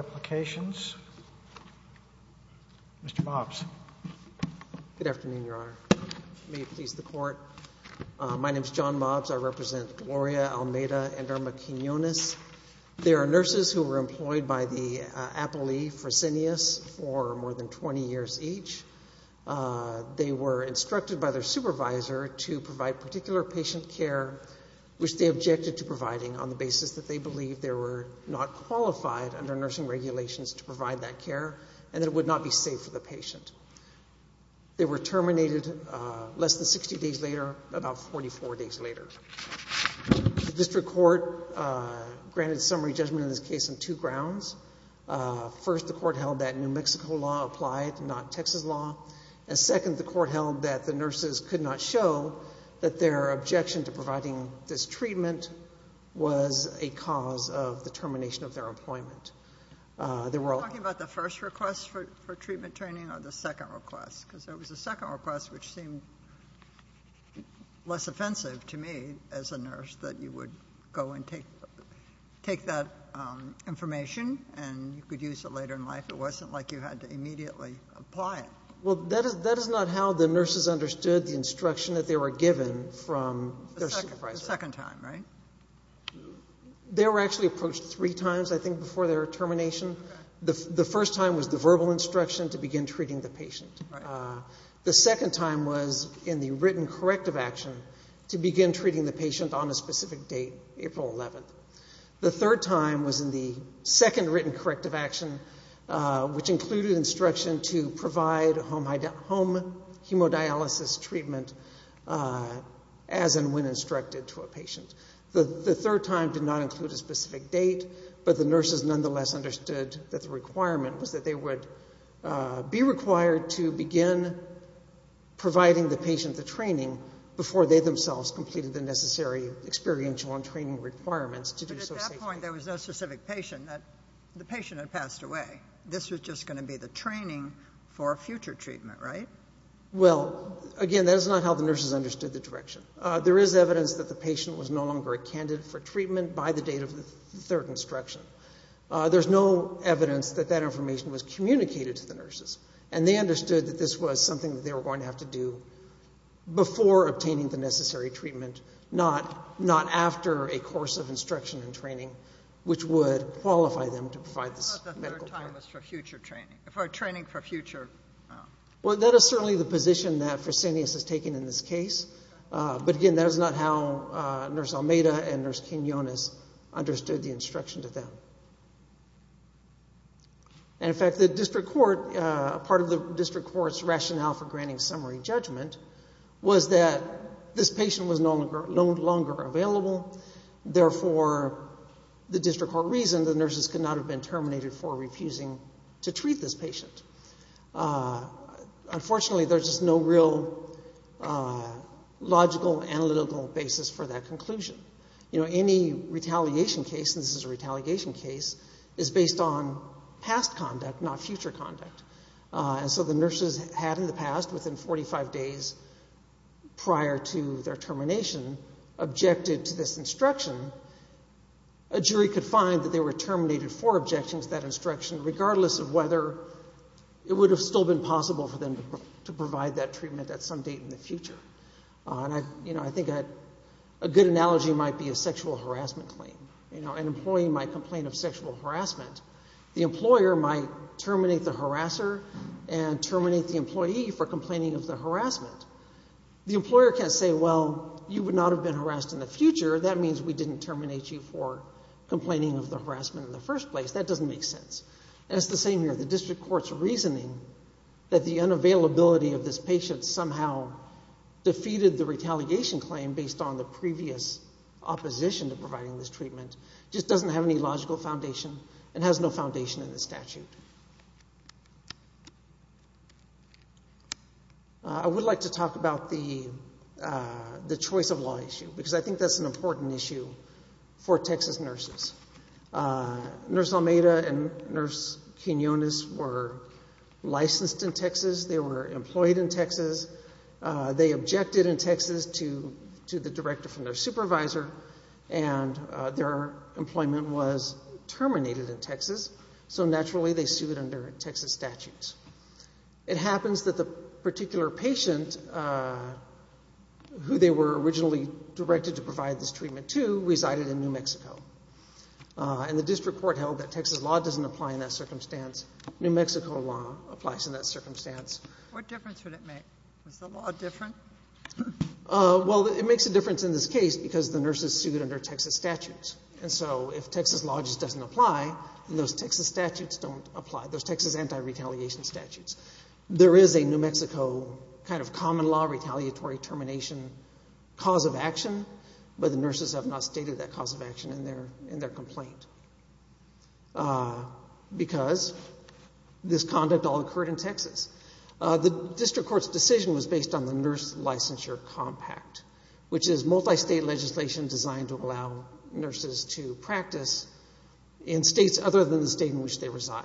Mr. Mobs. Good afternoon, Your Honor. May it please the Court. My name is John Mobs. I represent Gloria Almeida and Irma Quinones. They are nurses who were employed by the Appley Fresenius for more than 20 years each. They were instructed by their supervisor to provide particular patient care which they objected to providing on the basis that they believed they were not qualified under nursing regulations to provide that care and that it would not be safe for the patient. They were terminated less than 60 days later, about 44 days later. The District Court granted summary judgment in this case on two grounds. First, the Court held that New Mexico law applied, not Texas law. And second, the Court held that the nurses could not show that their objection to their employment. They were all ñ Dr. Barbara L. Mobs. Are you talking about the first request for treatment training or the second request? Because there was a second request which seemed less offensive to me as a nurse, that you would go and take that information and you could use it later in life. It wasn't like you had to immediately Mr. Almeida v. Bio-Medical Applications Well, that is not how the nurses understood the instruction that they were Dr. Barbara L. Mobs. The second time. Mr. Almeida v. Bio-Medical Applications The second time, right? Dr. Barbara L. Mobs. Yes. Mr. Almeida v. Bio-Medical Applications The first time was the verbal instruction to begin treating the patient. The second time was in the written corrective action to begin treating the patient on a specific date, April 11th. The third time was in the second written corrective action which included instruction to provide home hemodialysis treatment as and when instructed to a patient. The third time did not include a specific date, but the nurses nonetheless understood that the requirement was that they would be required to begin providing the patient the training before they themselves completed the necessary experiential and training Dr. Barbara L. Mobs. But at that point there was no specific patient. The patient had passed away. This was just going to be the training for a future treatment, right? Mr. Almeida v. Bio-Medical Applications Well, again, that is not how the nurses understood the direction. There is evidence that the patient was no longer a candidate for treatment by the date of the third instruction. There is no evidence that that information was communicated to the nurses, and they understood that this was something that they were going to have to do before obtaining the necessary treatment, not after a course of instruction and training which would qualify them to provide this medical care. Dr. Barbara L. Mobs. I thought the third time was for future training, for training for future... Mr. Almeida v. Bio-Medical Applications Well, that is certainly the position that Fresenius has taken in this case, but, again, that is not how Nurse Almeida and Nurse Quinonez understood the instruction to them. And, in fact, the district court, part of the district court's rationale for granting summary judgment was that this patient was no longer available. Therefore, the district court reasoned the nurses could not have been terminated for refusing to treat this patient. Unfortunately, there is just no real logical, analytical basis for that conclusion. You know, any retaliation case, and this is a retaliation case, is based on past conduct, not future conduct. And so the nurses had in the past, within 45 days, prior to their termination, objected to this instruction. A jury could find that they were terminated for objecting to that instruction, regardless of whether it would have still been possible for them to provide that treatment at some date in the future. And, you know, I think a good analogy might be a sexual harassment claim. You know, an employee might complain of sexual harassment. The employer might terminate the harasser and terminate the employee for complaining of the harassment. The employer can't say, well, you would not have been harassed in the future. That means we didn't terminate you for complaining of the harassment in the first place. That doesn't make sense. And it's the same here. The district court's reasoning that the unavailability of this patient somehow defeated the retaliation claim based on the previous opposition to providing this treatment just doesn't have any logical foundation and has no foundation in the statute. I would like to talk about the choice of law issue, because I think that's an important issue for Texas nurses. Nurse Almeida and Nurse Quinones were licensed in Texas. They were employed in Texas. They objected in Texas to the director from their supervisor, and their employment was terminated in Texas. So, naturally, they sued under Texas statutes. It happens that the particular patient who they were originally directed to provide this treatment to resided in New Mexico. And the district court held that Texas law doesn't apply in that circumstance. New Mexico law applies in that circumstance. What difference would it make? Is the law different? Well, it makes a difference in this case because the nurses sued under Texas statutes. And so if Texas law just doesn't apply, then those Texas statutes don't apply, those Texas anti-retaliation statutes. There is a New Mexico kind of common law retaliatory termination cause of action, but the nurses have not stated that cause of action in their complaint because this conduct all occurred in Texas. The district court's decision was based on the nurse licensure compact, which is multi-state legislation designed to allow nurses to practice in states other than the state in which they reside.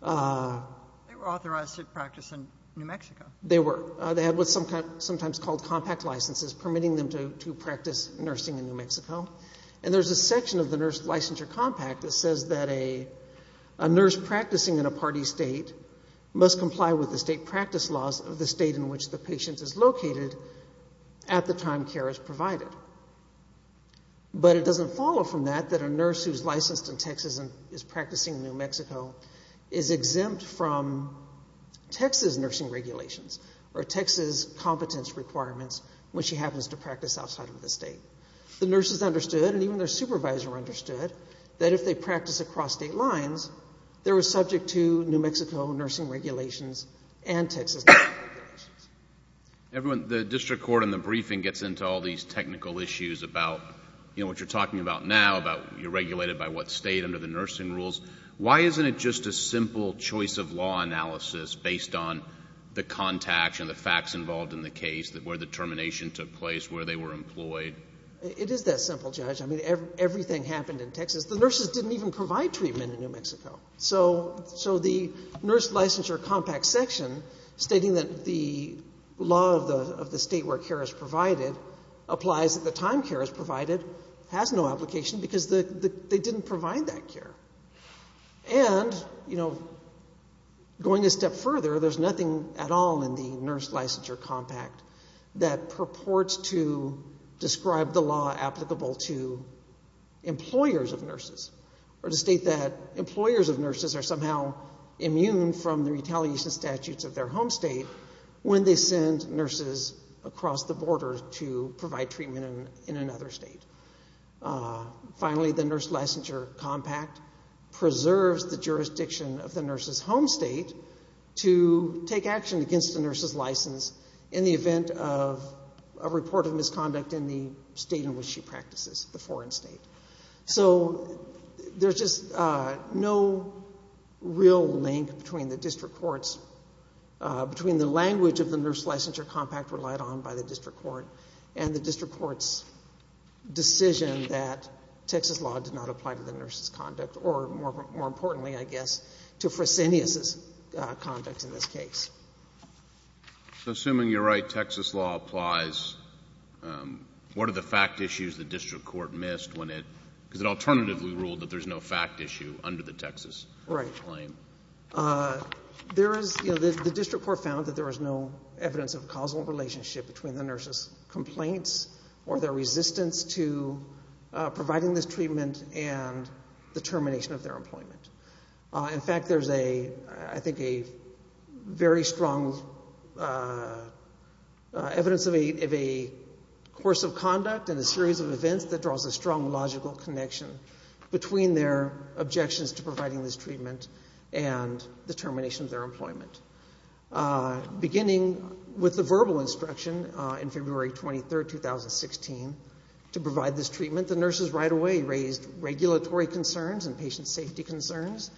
They were authorized to practice in New Mexico. They were. They had what's sometimes called compact licenses, permitting them to practice nursing in New Mexico. And there's a section of the nurse licensure compact that says that a nurse practicing in a party state must comply with the state practice laws of the state in which the patient is located at the time care is provided. But it doesn't follow from that that a nurse who's licensed in Texas and is practicing in New Mexico is exempt from Texas nursing regulations or Texas competence requirements when she happens to practice outside of the state. The nurses understood, and even their supervisor understood, that if they practiced across state lines, they were subject to New Mexico nursing regulations and Texas nursing regulations. Everyone, the district court in the briefing gets into all these technical issues about, you know, what you're talking about now, about you're regulated by what state under the nursing rules. Why isn't it just a simple choice-of-law analysis based on the contacts and the facts involved in the case where the termination took place, where they were employed? It is that simple, Judge. I mean, everything happened in Texas. The nurses didn't even provide treatment in New Mexico. So the nurse licensure compact section stating that the law of the state where care is provided applies at the time care is provided has no application because they didn't provide that care. And, you know, going a step further, there's nothing at all in the nurse licensure compact that purports to describe the law applicable to employers of nurses or to state that employers of nurses are somehow immune from the retaliation statutes of their home state when they send nurses across the border to provide treatment in another state. Finally, the nurse licensure compact preserves the jurisdiction of the nurse's home state to take action against the nurse's license in the event of a report of misconduct in the state in which she practices, the foreign state. So there's just no real link between the district court's between the language of the nurse licensure compact relied on by the district court and the district court's decision that Texas law did not apply to the nurse's conduct or, more importantly, I guess, to Fresenius's conduct in this case. Assuming you're right, Texas law applies, what are the fact issues the district court missed when it, because it alternatively ruled that there's no fact issue under the Texas claim? The district court found that there was no evidence of causal relationship between the nurse's complaints or their resistance to providing this treatment and the termination of their employment. In fact, there's a, I think, a very strong evidence of a course of conduct and a series of events that draws a strong logical connection between their objections to providing this treatment and the termination of their employment. Beginning with the verbal instruction in February 23, 2016, to provide this treatment, the nurses right away raised regulatory concerns and patient safety concerns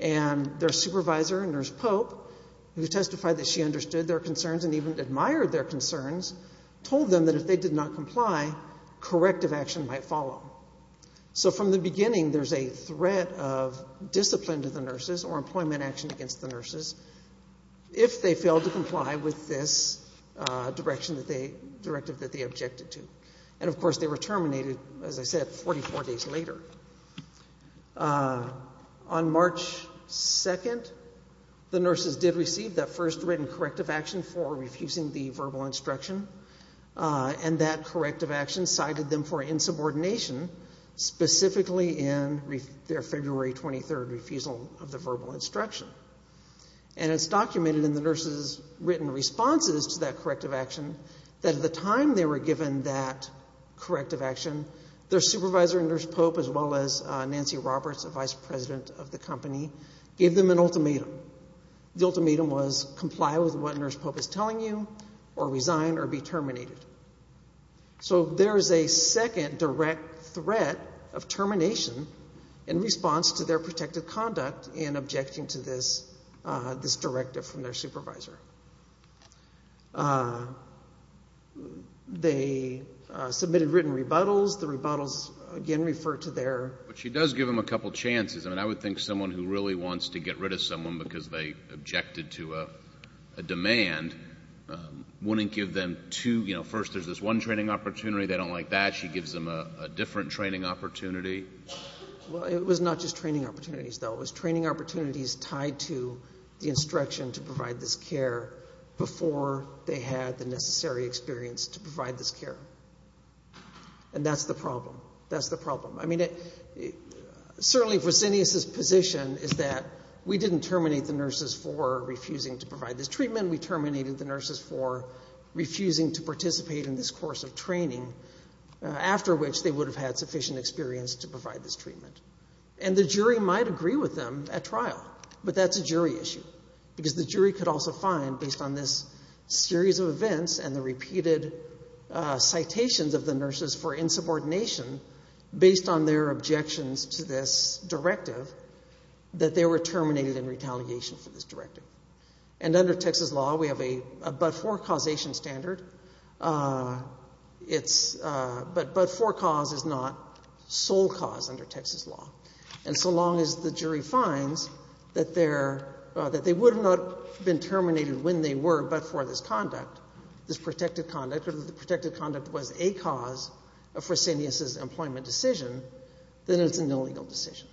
and their supervisor, Nurse Pope, who testified that she understood their concerns and even admired their concerns, told them that if they did not comply, corrective action might follow. So from the beginning there's a threat of discipline to the nurses or employment action against the nurses if they fail to comply with this direction that they, directive that they objected to. And of course they were terminated, as I said, 44 days later. On March 2nd, the nurses did receive that first written corrective action for refusing the verbal instruction and that corrective action cited them for insubordination specifically in their February 23 refusal of the verbal instruction. And it's documented in the nurses' written responses to that corrective action that at the time they were given that corrective action, their supervisor, Nurse Pope, as well as Nancy Roberts, a vice president of the company, gave them an ultimatum. The ultimatum was comply with what Nurse Pope is telling you or resign or be terminated. So there is a second direct threat of termination in response to their protective conduct in objecting to this directive from their supervisor. They submitted written rebuttals. The rebuttals, again, refer to their... But she does give them a couple chances. I mean, I would think someone who really wants to get rid of someone because they objected to a demand wouldn't give them two, you know, first there's this one training opportunity. They don't like that. She gives them a different training opportunity. Well, it was not just training opportunities, though. It was training opportunities tied to the instruction to provide this care before they had the necessary experience to provide this care. And that's the problem. That's the problem. I mean, certainly, Resinius's position is that we didn't terminate the nurses for refusing to provide this treatment. We terminated the nurses for refusing to participate in this course of training, after which they would have had sufficient experience to provide this treatment. And the jury might agree with them at trial. But that's a jury issue. Because the jury could also find, based on this series of events and the repeated citations of the nurses for insubordination, based on their objections to this directive, that they were terminated in retaliation for this directive. And under Texas law, we have a but-for causation standard. But but-for cause is not sole cause under Texas law. And so long as the jury finds that they would have not been terminated when they were, but for this conduct, this protected conduct, or if the protected conduct was a cause of Resinius's employment decision, then it's an illegal decision.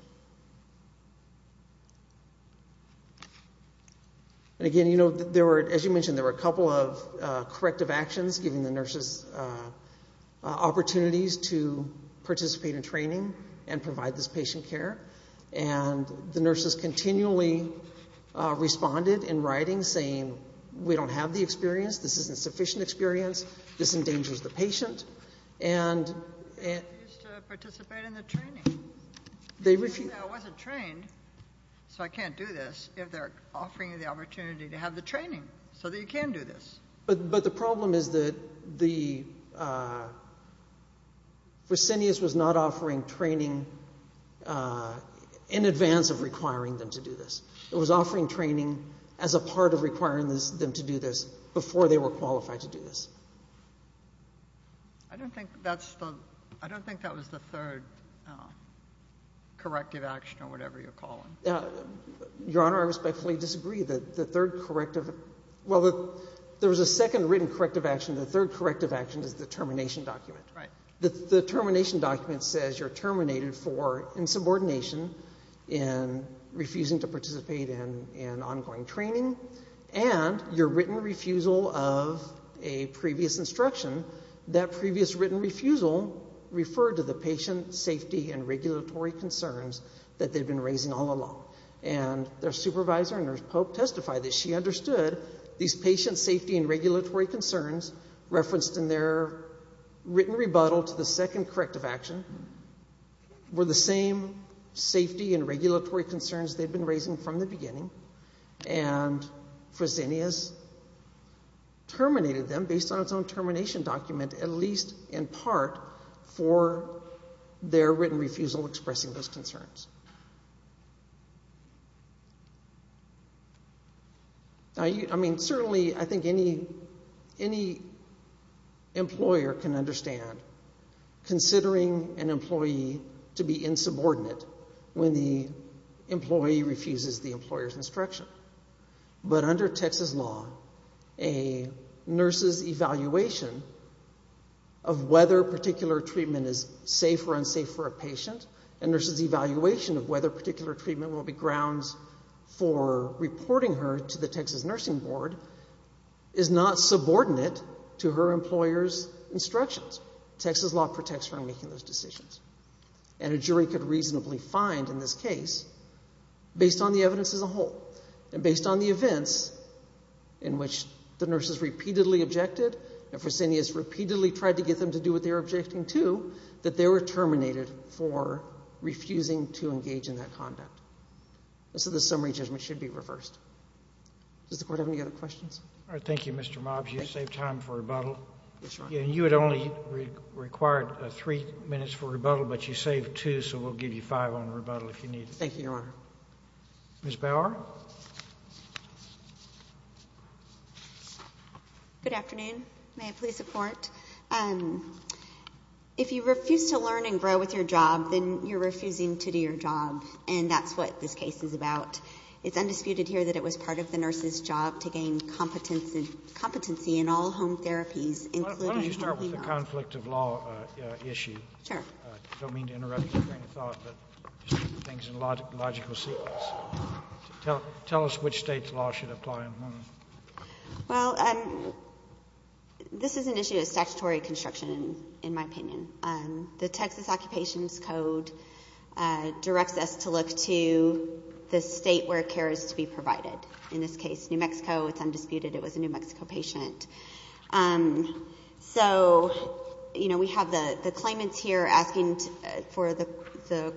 And again, as you mentioned, there were a couple of corrective actions, giving the nurses opportunities to participate in training and provide this patient care. And the nurses continually responded in writing, saying, we don't have the experience, this isn't sufficient experience, this endangers the patient, and Participate in the training. They refused. I wasn't trained, so I can't do this. If they're offering you the opportunity to have the training, so that you can do this. But the problem is that the Resinius was not offering training in advance of requiring them to do this. It was offering training as a part of requiring them to do this before they were qualified to do this. I don't think that's the I don't think that was the third corrective action or whatever you're calling. Your Honor, I respectfully disagree. The third corrective, well there was a second written corrective action. The third corrective action is the termination document. The termination document says you're terminated for insubordination in refusing to participate in ongoing training and your written refusal of a previous instruction. That previous written refusal referred to the patient safety and regulatory concerns that they've been raising all along. And their supervisor and their pope testified that she understood these patient safety and regulatory concerns referenced in their written rebuttal to the second corrective action were the same safety and regulatory concerns they've been raising from the beginning and Resinius terminated them based on its own termination document at least in part for their written refusal expressing those concerns. I mean certainly I think any any employer can understand considering an employee to be insubordinate when the employee refuses the employer's instruction. But under Texas law a nurse's evaluation of whether particular treatment is safe or unsafe for a patient a nurse's evaluation of whether particular treatment will be grounds for reporting her to the Texas nursing board is not subordinate to her employer's instructions. Texas law protects from making those decisions. And a jury could reasonably find in this case based on the evidence as a whole and based on the events in which the nurses repeatedly objected and Resinius repeatedly tried to get them to do what they were objecting to that they were terminated for refusing to engage in that conduct. So the summary judgment should be reversed. Does the court have any other questions? Thank you, Mr. Mobs. You saved time for rebuttal. You had only required three minutes for rebuttal but you saved two so we'll give you five on rebuttal if you need it. Thank you, Your Honor. Ms. Bauer? Good afternoon. May I please support? If you refuse to learn and grow with your job then you're refusing to do your job and that's what this case is about. It's undisputed here that it was part of the nurse's job to gain competency in all home therapies Why don't you start with the conflict of law issue? I don't mean to interrupt your train of thought but things in a logical sequence. Tell us which state's law should apply in whom. Well this is an issue of statutory construction in my opinion. The Texas Occupations Code directs us to look to the state where care is to be provided in this case, New Mexico. It's undisputed it was a New Mexico patient. So we have the claimants here asking for the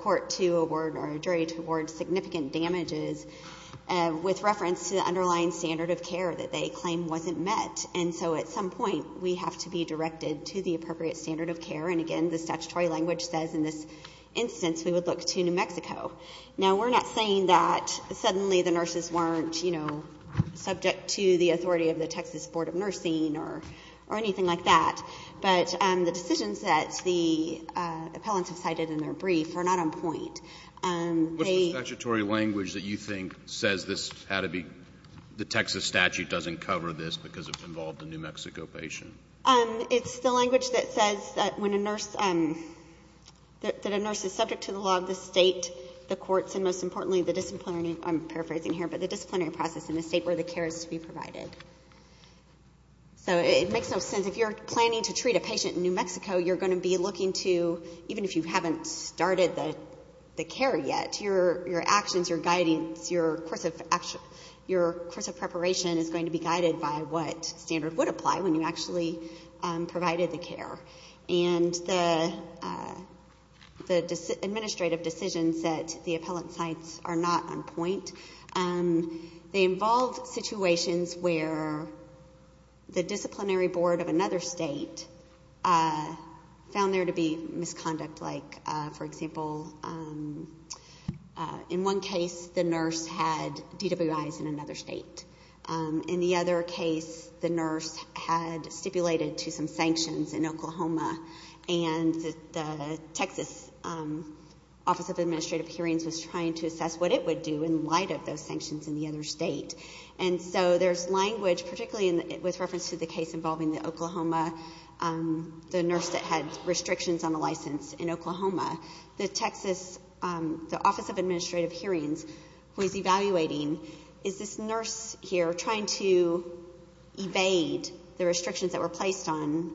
court to award or jury to award significant damages with reference to the underlying standard of care that they claim wasn't met and so at some point we have to be directed to the appropriate standard of care and again the statutory language says in this instance we would look to New Mexico. Now we're not saying that suddenly the nurses weren't you know, subject to the authority of the Texas Board of Nursing or anything like that but the decisions that the appellants have cited in their brief are not on point. What's the statutory language that you think says this had to be the Texas statute doesn't cover this because it involved a New Mexico patient? It's the language that says that when a nurse that a nurse is subject to the law of the state the courts and most importantly the disciplinary, I'm paraphrasing here, but the disciplinary process in the state where the care is to be provided. So it makes no sense. If you're planning to treat a patient in New Mexico, you're going to be looking to, even if you haven't started the care yet, your actions, your guidance, your course of preparation is going to be guided by what standard would apply when you actually provided the care. And the administrative decisions that the appellant cites are not on point. They involve situations where the disciplinary board of another state found there to be misconduct like for example in one case the nurse had DWIs in another state. In the other case the nurse had stipulated to some sanctions in Oklahoma and the Texas Office of Administrative Hearings was trying to assess what it would do in light of those sanctions in the other state. And so there's language, particularly with reference to the case involving the Oklahoma the nurse that had restrictions on a license in Oklahoma the Texas Office of Administrative Hearings was evaluating is this nurse here trying to evade the restrictions that were placed on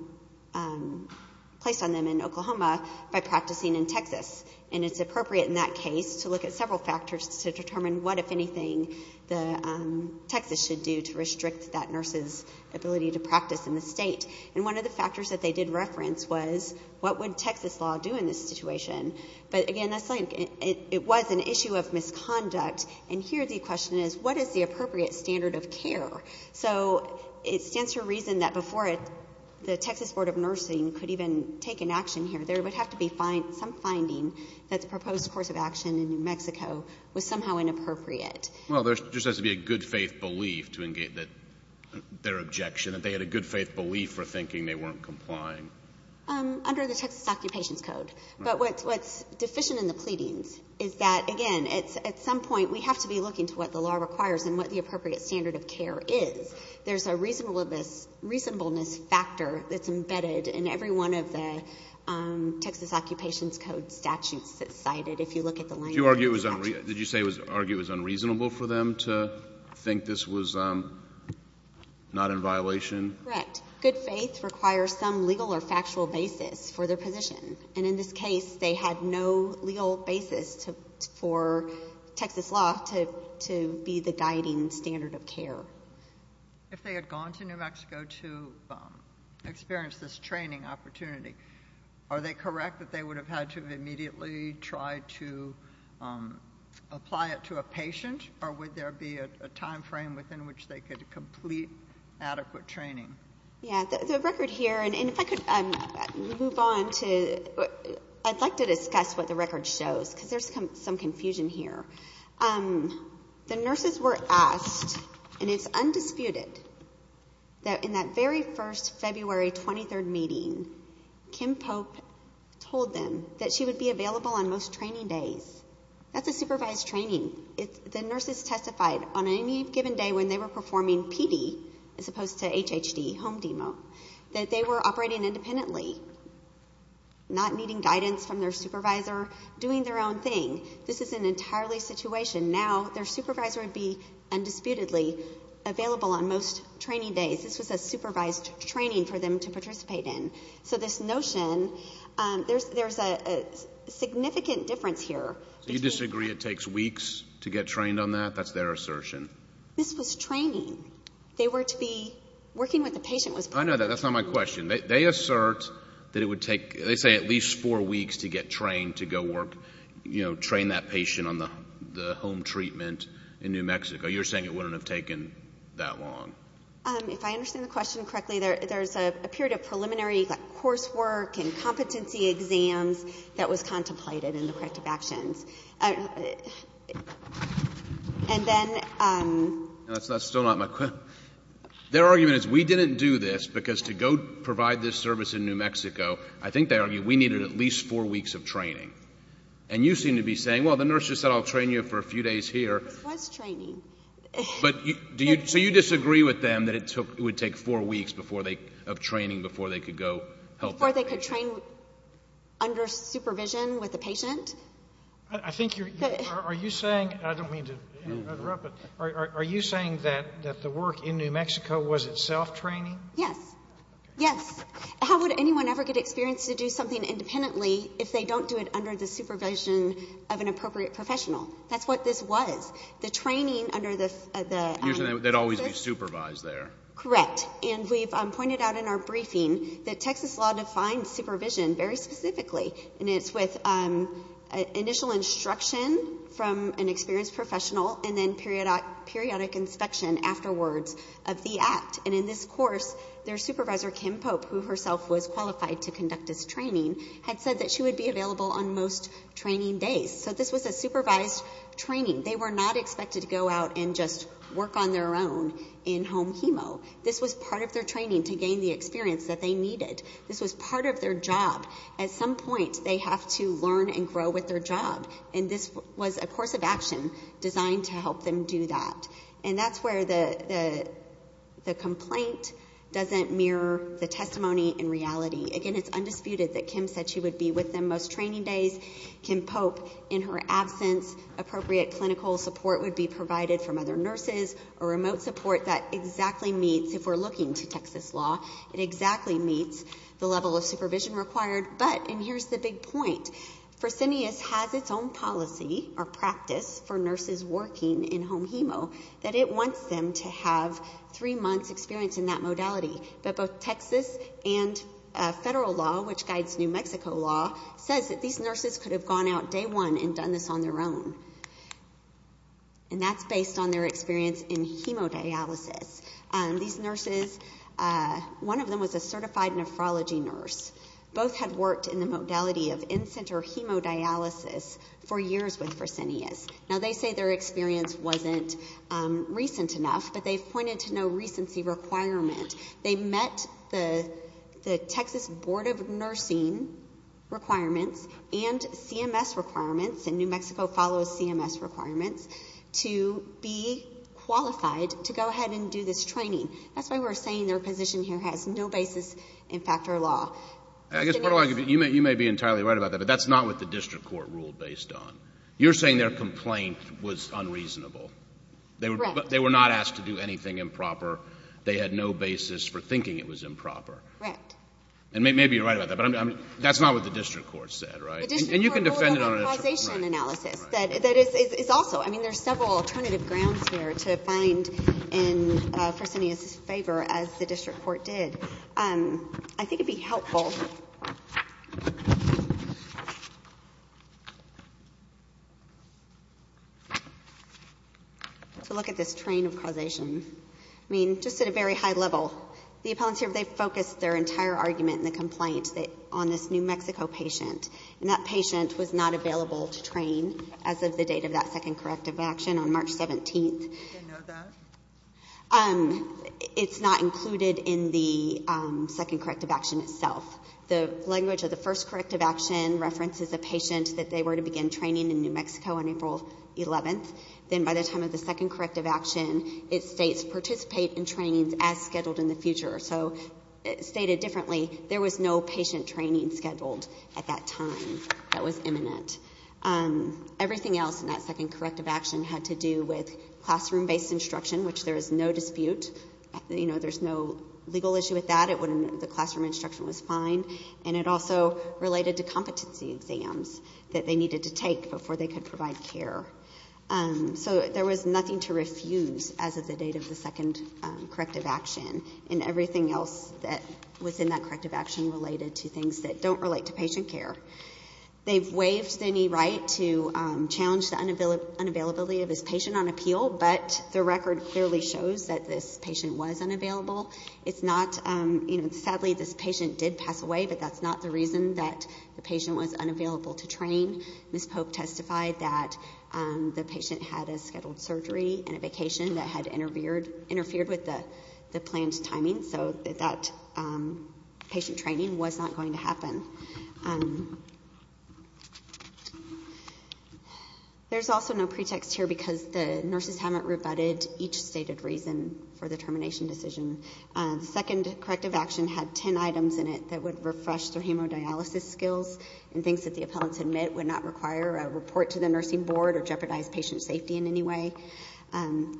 placed on them in Oklahoma by practicing in Texas. And it's appropriate in that case to look at several factors to determine what if anything the Texas should do to restrict that nurse's ability to practice in the state. And one of the what would Texas law do in this situation but again it was an issue of misconduct and here the question is what is the appropriate standard of care? So it stands to reason that before the Texas Board of Nursing could even take an action here there would have to be some finding that the proposed course of action in New Mexico was somehow inappropriate. Well there just has to be a good faith belief that their objection that they had a good faith belief for thinking they weren't complying. Under the Texas Occupations Code. But what's deficient in the pleadings is that again at some point we have to be looking to what the law requires and what the appropriate standard of care is. There's a reasonableness factor that's embedded in every one of the Texas Occupations Code statutes that's cited if you look at the language. Did you argue it was unreasonable for them to think this was not in violation? Correct. Good faith requires some legal or factual basis for their position and in this case they had no legal basis for Texas law to be the guiding standard of care. If they had gone to New Mexico to experience this training opportunity are they correct that they would have had to immediately try to apply it to a patient or would there be a time frame within which they could complete adequate training? The record here and if I could move on I'd like to discuss what the record shows because there's some confusion here. The nurses were asked and it's undisputed that in that very first February 23rd meeting Kim Pope told them that she would be available on most training days. That's a supervised training. The nurses testified on any given day when they were performing PD as opposed to HHD home demo that they were operating independently not needing guidance from their supervisor doing their own thing. This is an entirely situation. Now their supervisor would be undisputedly available on most training days. This was a supervised training for them to participate in. So this notion, there's a significant difference here. Do you disagree it takes weeks to get trained on that? That's their assertion. This was training. They were to be working with a patient I know that. That's not my question. They assert that it would take, they say at least four weeks to get trained to go work, you know, train that patient on the home treatment in New Mexico. You're saying it wouldn't have taken that long. If I understand the question correctly, there's a period of preliminary coursework and competency exams that was contemplated in the corrective actions. And then That's still not my question. Their argument is we didn't do this because to go provide this service in New Mexico, I think they argue we needed at least four weeks of training. And you seem to be saying, well the nurse just said I'll train you for a few days here. This was training. So you disagree with them that it would take four weeks of training before they could go help the patient? Before they could train under supervision with the patient? I think you're saying, I don't mean to interrupt but are you saying that the work in New Mexico was itself training? Yes. How would anyone ever get experience to do something independently if they don't do it under the supervision of an appropriate professional? That's what this was. The training under the Usually they'd always be supervised there. Correct. And we've pointed out in our briefing that Texas law defines supervision very specifically. And it's with initial instruction from an experienced professional and then periodic inspection afterwards of the act. And in this course their supervisor, Kim Pope, who herself was qualified to conduct this training had said that she would be available on most training days. So this was a supervised training. They were not expected to go out and just work on their own in home chemo. This was part of their training to gain the experience that they needed. This was part of their job. At some point they have to learn and grow with their job. And this was a course of action designed to help them do that. And that's where the complaint doesn't mirror the testimony in reality. Again it's undisputed that Kim said she would be with them most training days. Kim Pope, in her absence appropriate clinical support would be provided from other nurses or remote support that exactly meets if we're looking to Texas law it exactly meets the level of supervision required. But, and here's the big point, Fresenius has its own policy or practice for nurses working in home chemo that it wants them to have three months experience in that modality. But both Texas and federal law, which guides New Mexico law, says that these nurses could have gone out day one and done this on their own. And that's based on their experience in chemo dialysis. These nurses one of them was a certified nephrology nurse. Both had worked in the modality of in-center hemodialysis for years with Fresenius. Now they say their experience wasn't recent enough but they've pointed to no recency requirement. They met the Texas Board of Nursing requirements and CMS requirements and New Mexico follows CMS requirements to be able to do this training. That's why we're saying their position here has no basis in fact or law. You may be entirely right about that, but that's not what the district court ruled based on. You're saying their complaint was unreasonable. They were not asked to do anything improper. They had no basis for thinking it was improper. And maybe you're right about that, but that's not what the district court said, right? And you can defend it on a different point. There's several alternative grounds here to find in Fresenius' favor as the district court did. I think it'd be helpful to look at this train of causation. I mean, just at a very high level. The appellants here, they've focused their entire argument in the complaint on this New Mexico patient and that patient was not available to train as of the date of that second corrective action on March 17th. Did they know that? It's not included in the second corrective action itself. The language of the first corrective action references a patient that they were to begin training in New Mexico on April 11th. Then by the time of the second corrective action, it states participate in trainings as scheduled in the future. So stated differently, there was no patient training scheduled at that time that was imminent. Everything else in that second corrective action had to do with classroom based instruction, which there is no dispute. There's no legal issue with that. The classroom instruction was fine. It also related to competency exams that they needed to take before they could provide care. There was nothing to refuse as of the date of the second corrective action. Everything else that was in that corrective action related to things that don't relate to patient care. They've waived any right to challenge the unavailability of this patient on appeal but the record clearly shows that this patient was unavailable. It's not, sadly this patient did pass away but that's not the reason that the patient was unavailable to train. Ms. Pope testified that the patient had a scheduled surgery and a vacation that had interfered with the planned timing so that patient training was not going to happen. There's also no pretext here because the nurses haven't rebutted each stated reason for the termination decision. The second corrective action had 10 items in it that would refresh their hemodialysis skills and things that the appellants admit would not require a report to the nursing board or jeopardize patient safety in any way.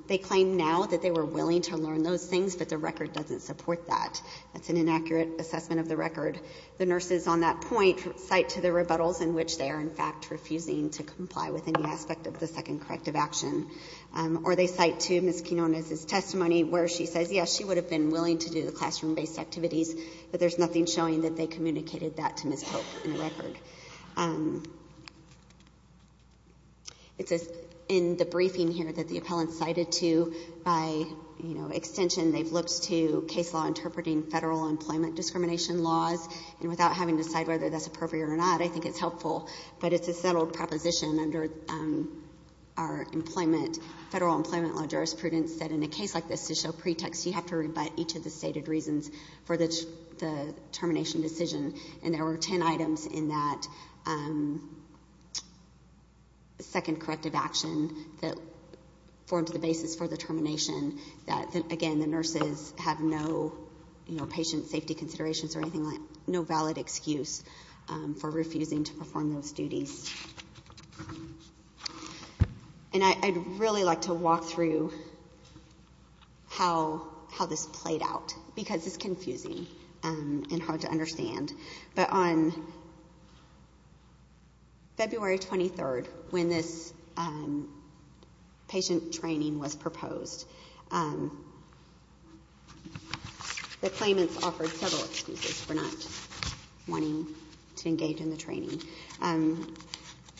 They claim now that they were willing to learn those things but the record doesn't support that. That's an inaccurate assessment of the record. The nurses on that point cite to the rebuttals in which they are in fact refusing to comply with any aspect of the second corrective action. Or they cite to Ms. Quinonez's testimony where she says yes she would have been willing to do the classroom based activities but there's nothing showing that they communicated that to Ms. Pope in the record. In the briefing here that the appellants cited to by extension they've looked to case law interpreting federal employment discrimination laws and without having to decide whether that's appropriate or not I think it's helpful but it's a settled proposition under our federal employment law jurisprudence that in a case like this to show pretext you have to rebut each of the stated reasons for the termination decision and there were 10 items in that second corrective action that formed the basis for the second corrective action and I think it's important to note that the nurses have no patient safety considerations or anything like that no valid excuse for refusing to perform those duties and I'd really like to walk through how this played out because it's confusing and hard to understand but on February 23rd when this patient training was proposed the claimants offered several excuses for not wanting to engage in the training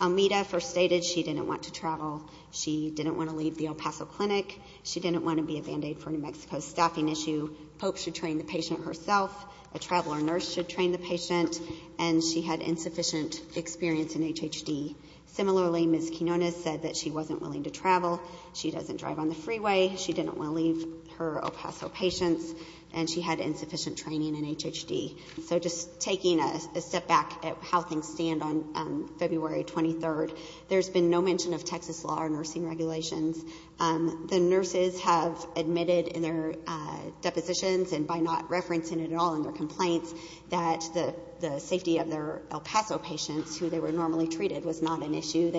Almeda first stated she didn't want to travel she didn't want to leave the El Paso Clinic she didn't want to be a band-aid for New Mexico's staffing issue, Pope should train the patient herself a traveler nurse should train the patient and she had insufficient experience in HHD similarly Ms. Quinones said that she wasn't willing to travel she doesn't drive on the freeway she didn't want to leave her El Paso patients and she had insufficient training in HHD so just taking a step back at how things stand on February 23rd there's been no mention of Texas law or nursing regulations the nurses have admitted in their depositions and by not referencing it at all in their complaints that the safety of their El Paso patients, who they were normally treated was not an issue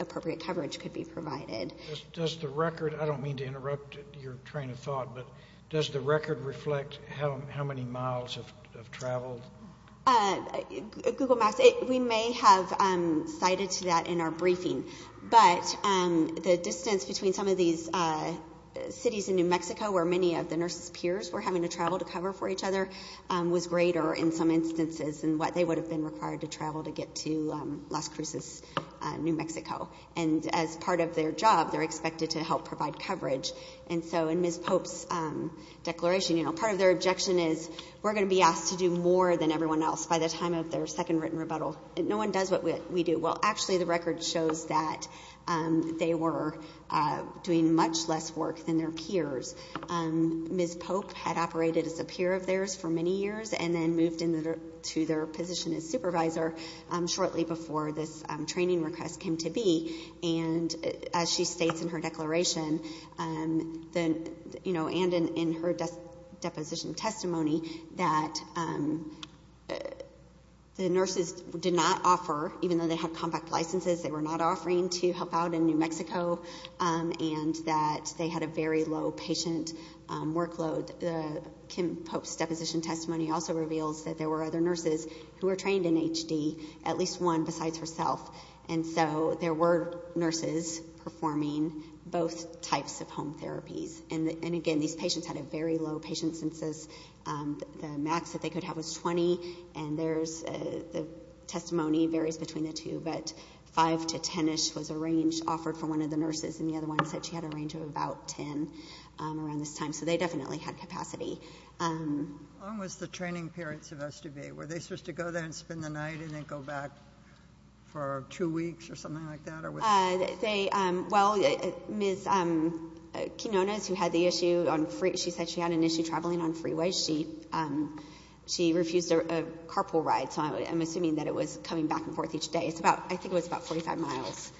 appropriate coverage could be provided does the record, I don't mean to interrupt your train of thought, but does the record reflect how many miles of travel Google Maps we may have cited to that in our briefing, but the distance between some of these cities in New Mexico where many of the nurses' peers were having to travel to cover for each other was greater in some instances than what they would have been required to travel to get to Las Cruces, New Mexico and as part of their job they're expected to help provide coverage and so in Ms. Pope's declaration part of their objection is we're going to be asked to do more than everyone else by the time of their second written rebuttal no one does what we do well actually the record shows that they were doing much less work than their peers Ms. Pope had operated as a peer of theirs for many years and then moved into their position as supervisor shortly before this training request came to be and as she states in her declaration and in her deposition testimony that the nurses did not offer, even though they had compact licenses they were not offering to help out in New Mexico and that they had a very low patient workload Kim Pope's deposition testimony also reveals that there were other nurses who were trained in HD, at least one besides herself and so there were nurses performing both types of home therapies and again these patients had a very low patient census the max that they could have was 20 and there's the testimony varies between the two but 5 to 10-ish was the range offered for one of the nurses and the other one said she had a range of about 10 so they definitely had capacity How long was the training period supposed to be? Were they supposed to go there and spend the night and then go back for two weeks or something like that? They, well Ms. Quinonez who had the issue, she said she had an issue traveling on freeways she refused a carpool ride so I'm assuming that it was coming back and forth each day, I think it was about 45 miles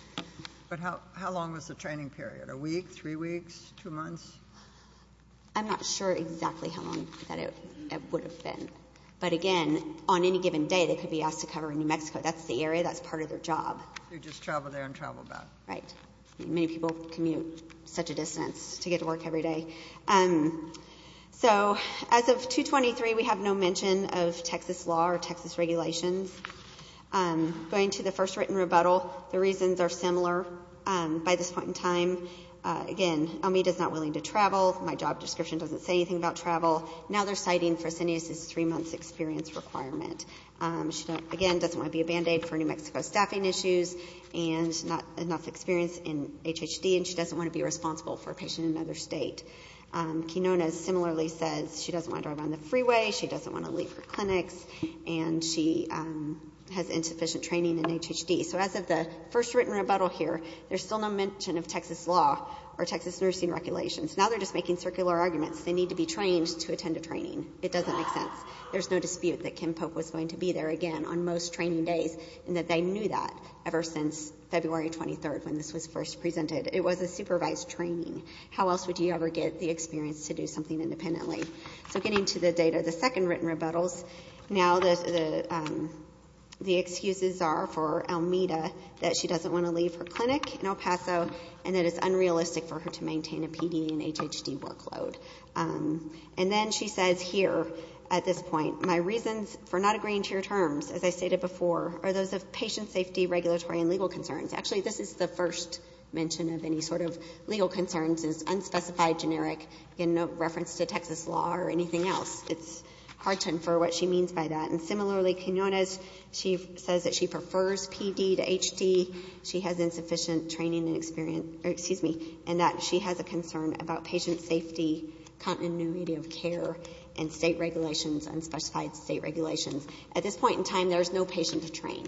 But how long was the training period? A week? Three weeks? Two months? I'm not sure exactly how long it would have been but again on any given day they could be asked to cover New Mexico, that's the area, that's part of their job They just travel there and travel back Many people commute such a distance to get to work everyday So as of 2-23 we have no mention of Texas law or Texas regulations Going to the first written rebuttal, the reasons are similar by this point in time Again, Elmita's not willing to travel, my job description doesn't say anything about travel, now they're citing Fresenius's three months experience requirement She again doesn't want to be a band-aid for New Mexico staffing issues and not enough experience in HHD and she doesn't want to be responsible for a patient in another state Quinonez similarly says she doesn't want to drive on the freeway, she doesn't want to leave her clinics and she has insufficient training in HHD So as of the first written rebuttal here, there's still no mention of Texas law or Texas nursing regulations Now they're just making circular arguments, they need to be trained to attend a training, it doesn't make sense There's no dispute that Kim Pope was going to be there again on most training days and that they knew that ever since February 23rd when this was first presented, it was a supervised training How else would you ever get the experience to do something independently So getting to the data, the second written rebuttals Now the excuses are for Almeda that she doesn't want to leave her clinic in El Paso and that it's unrealistic for her to maintain a PD and HHD workload And then she says here at this point, my reasons for not agreeing to your terms as I stated before are those of patient safety, regulatory and legal concerns. Actually this is the first mention of any sort of legal concerns It's unspecified, generic and no reference to Texas law or anything else. It's hard to infer what she means by that. And similarly, Quiñones she says that she prefers PD to HD, she has insufficient training and experience, or excuse me and that she has a concern about patient safety, continuity of care and state regulations unspecified state regulations At this point in time, there's no patient to train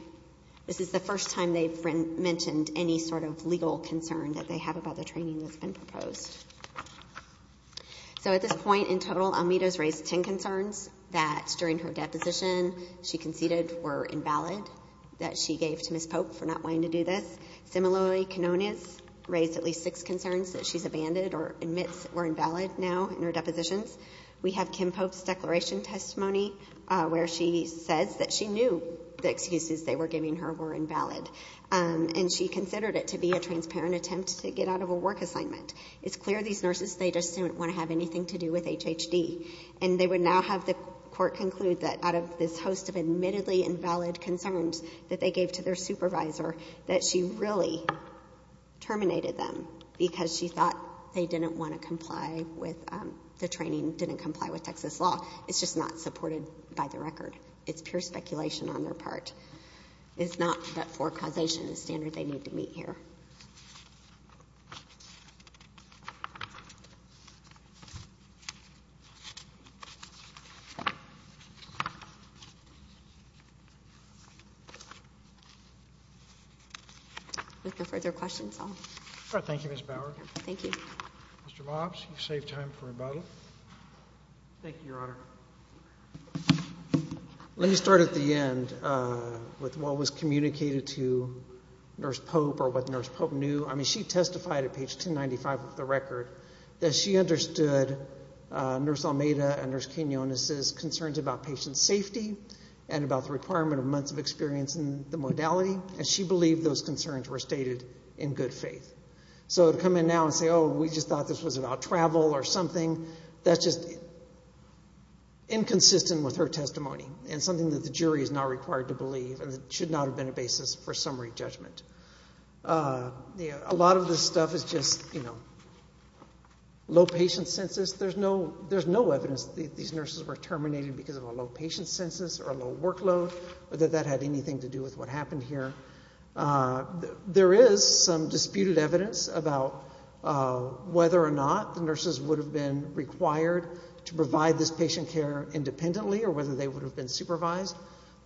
This is the first time they've mentioned any sort of legal concern that they have about the training that's been proposed So at this point in total, Almeida has raised 10 concerns that during her deposition she conceded were invalid that she gave to Ms. Pope for not wanting to do this. Similarly, Quiñones raised at least 6 concerns that she's abandoned or admits were invalid now in her depositions We have Kim Pope's declaration testimony where she says that she knew the excuses they were giving her were invalid and she considered it to be a transparent attempt to get out of a work assignment It's clear these nurses, they just didn't want to have anything to do with HHD and they would now have the court conclude that out of this host of admittedly invalid concerns that they gave to their supervisor that she really terminated them because she thought they didn't want to comply with the training, didn't comply with Texas law. It's just not supported by the record. It's pure speculation on their part It's not that forecausation is standard that they need to meet here With no further questions, I'll Thank you, Ms. Bower Mr. Mobs, you've saved time for rebuttal Thank you, Your Honor Let me start at the end with what was communicated to Nurse Pope or what Nurse Pope knew I mean, she testified at page 1095 of the record that she understood Nurse Almeida and Nurse Quinonez's concerns about patient safety and about the requirement of months of experience in the modality and she believed those concerns were stated in good faith So to come in now and say, oh, we just thought this was that's just inconsistent with her testimony and something that the jury is not required to believe and should not have been a basis for summary judgment A lot of this stuff is just low patient census There's no evidence that these nurses were terminated because of a low patient census or a low workload or that that had anything to do with what happened here There is some disputed evidence about whether or not the nurses would have been required to provide this patient care independently or whether they would have been supervised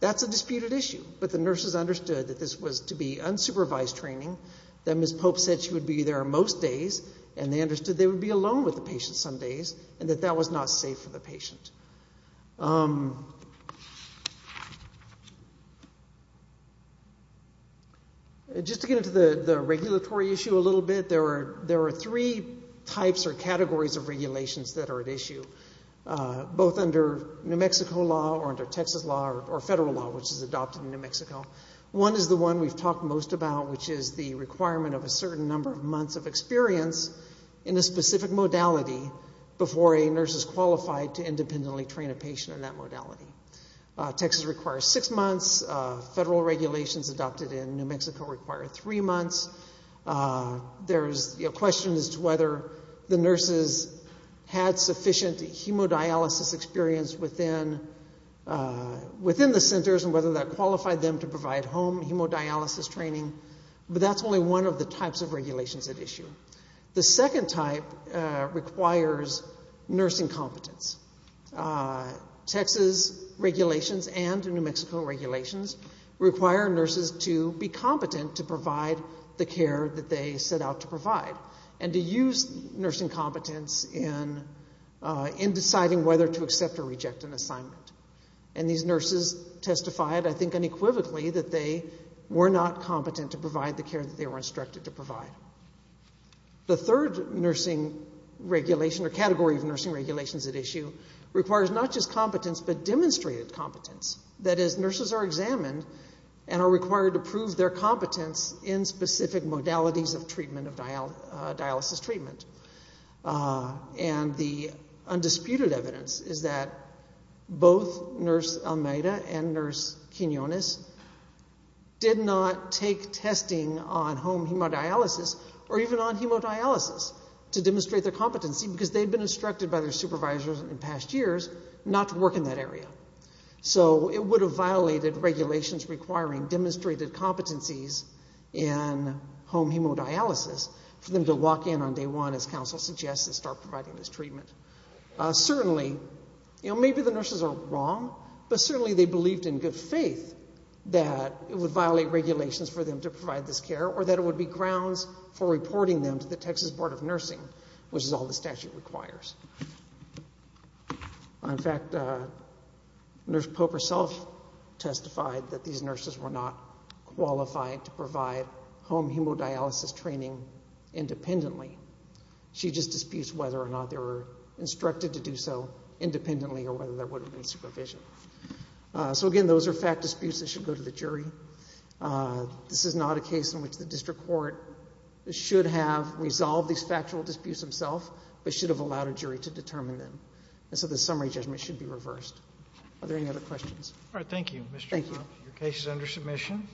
That's a disputed issue but the nurses understood that this was to be unsupervised training that Ms. Pope said she would be there most days and they understood they would be alone with the patient some days and that that was not safe for the patient Just to get into the regulatory issue a little bit, there are three types or categories of regulations that are at issue both under New Mexico law or under Texas law or federal law which is adopted in New Mexico One is the one we've talked most about which is the requirement of a certain number of months of experience in a specific modality before a nurse is qualified to independently train a patient in that modality Texas requires six months Federal regulations adopted in New Mexico require three months There's questions as to whether the nurses had sufficient hemodialysis experience within the centers and whether that qualified them to provide home hemodialysis training but that's only one of the types of regulations at issue The second type requires nursing competence Texas regulations and New Mexico regulations require nurses to be competent to provide the care that they set out to provide and to use nursing competence in deciding whether to accept or reject an assignment and these nurses testified I think unequivocally that they were not competent to provide the care that they were instructed to provide The third nursing regulation or category of nursing regulations at issue requires not just competence but demonstrated competence, that is nurses are examined and are required to prove their competence in specific modalities of treatment of and the undisputed evidence is that both Nurse Almeida and Nurse Quinones did not take testing on home hemodialysis or even on hemodialysis to demonstrate their competency because they've been instructed by their supervisors in past years not to work in that area so it would have violated regulations requiring demonstrated competencies in home hemodialysis for them to walk in on day one as counsel suggests and start providing this treatment Certainly, maybe the nurses are wrong but certainly they believed in good faith that it would violate regulations for them to provide this care or that it would be grounds for reporting them to the Texas Board of Nursing which is all the statute requires In fact Nurse Popper self testified that these nurses were not qualified to provide home hemodialysis training independently She just disputes whether or not they were instructed to do so independently or whether there would have been supervision So again, those are fact disputes that should go to the jury This is not a case in which the District Court should have resolved these factual disputes themselves but should have allowed a jury to determine them and so the summary judgment should be reversed. Are there any other questions? Alright, thank you. Your case is under submission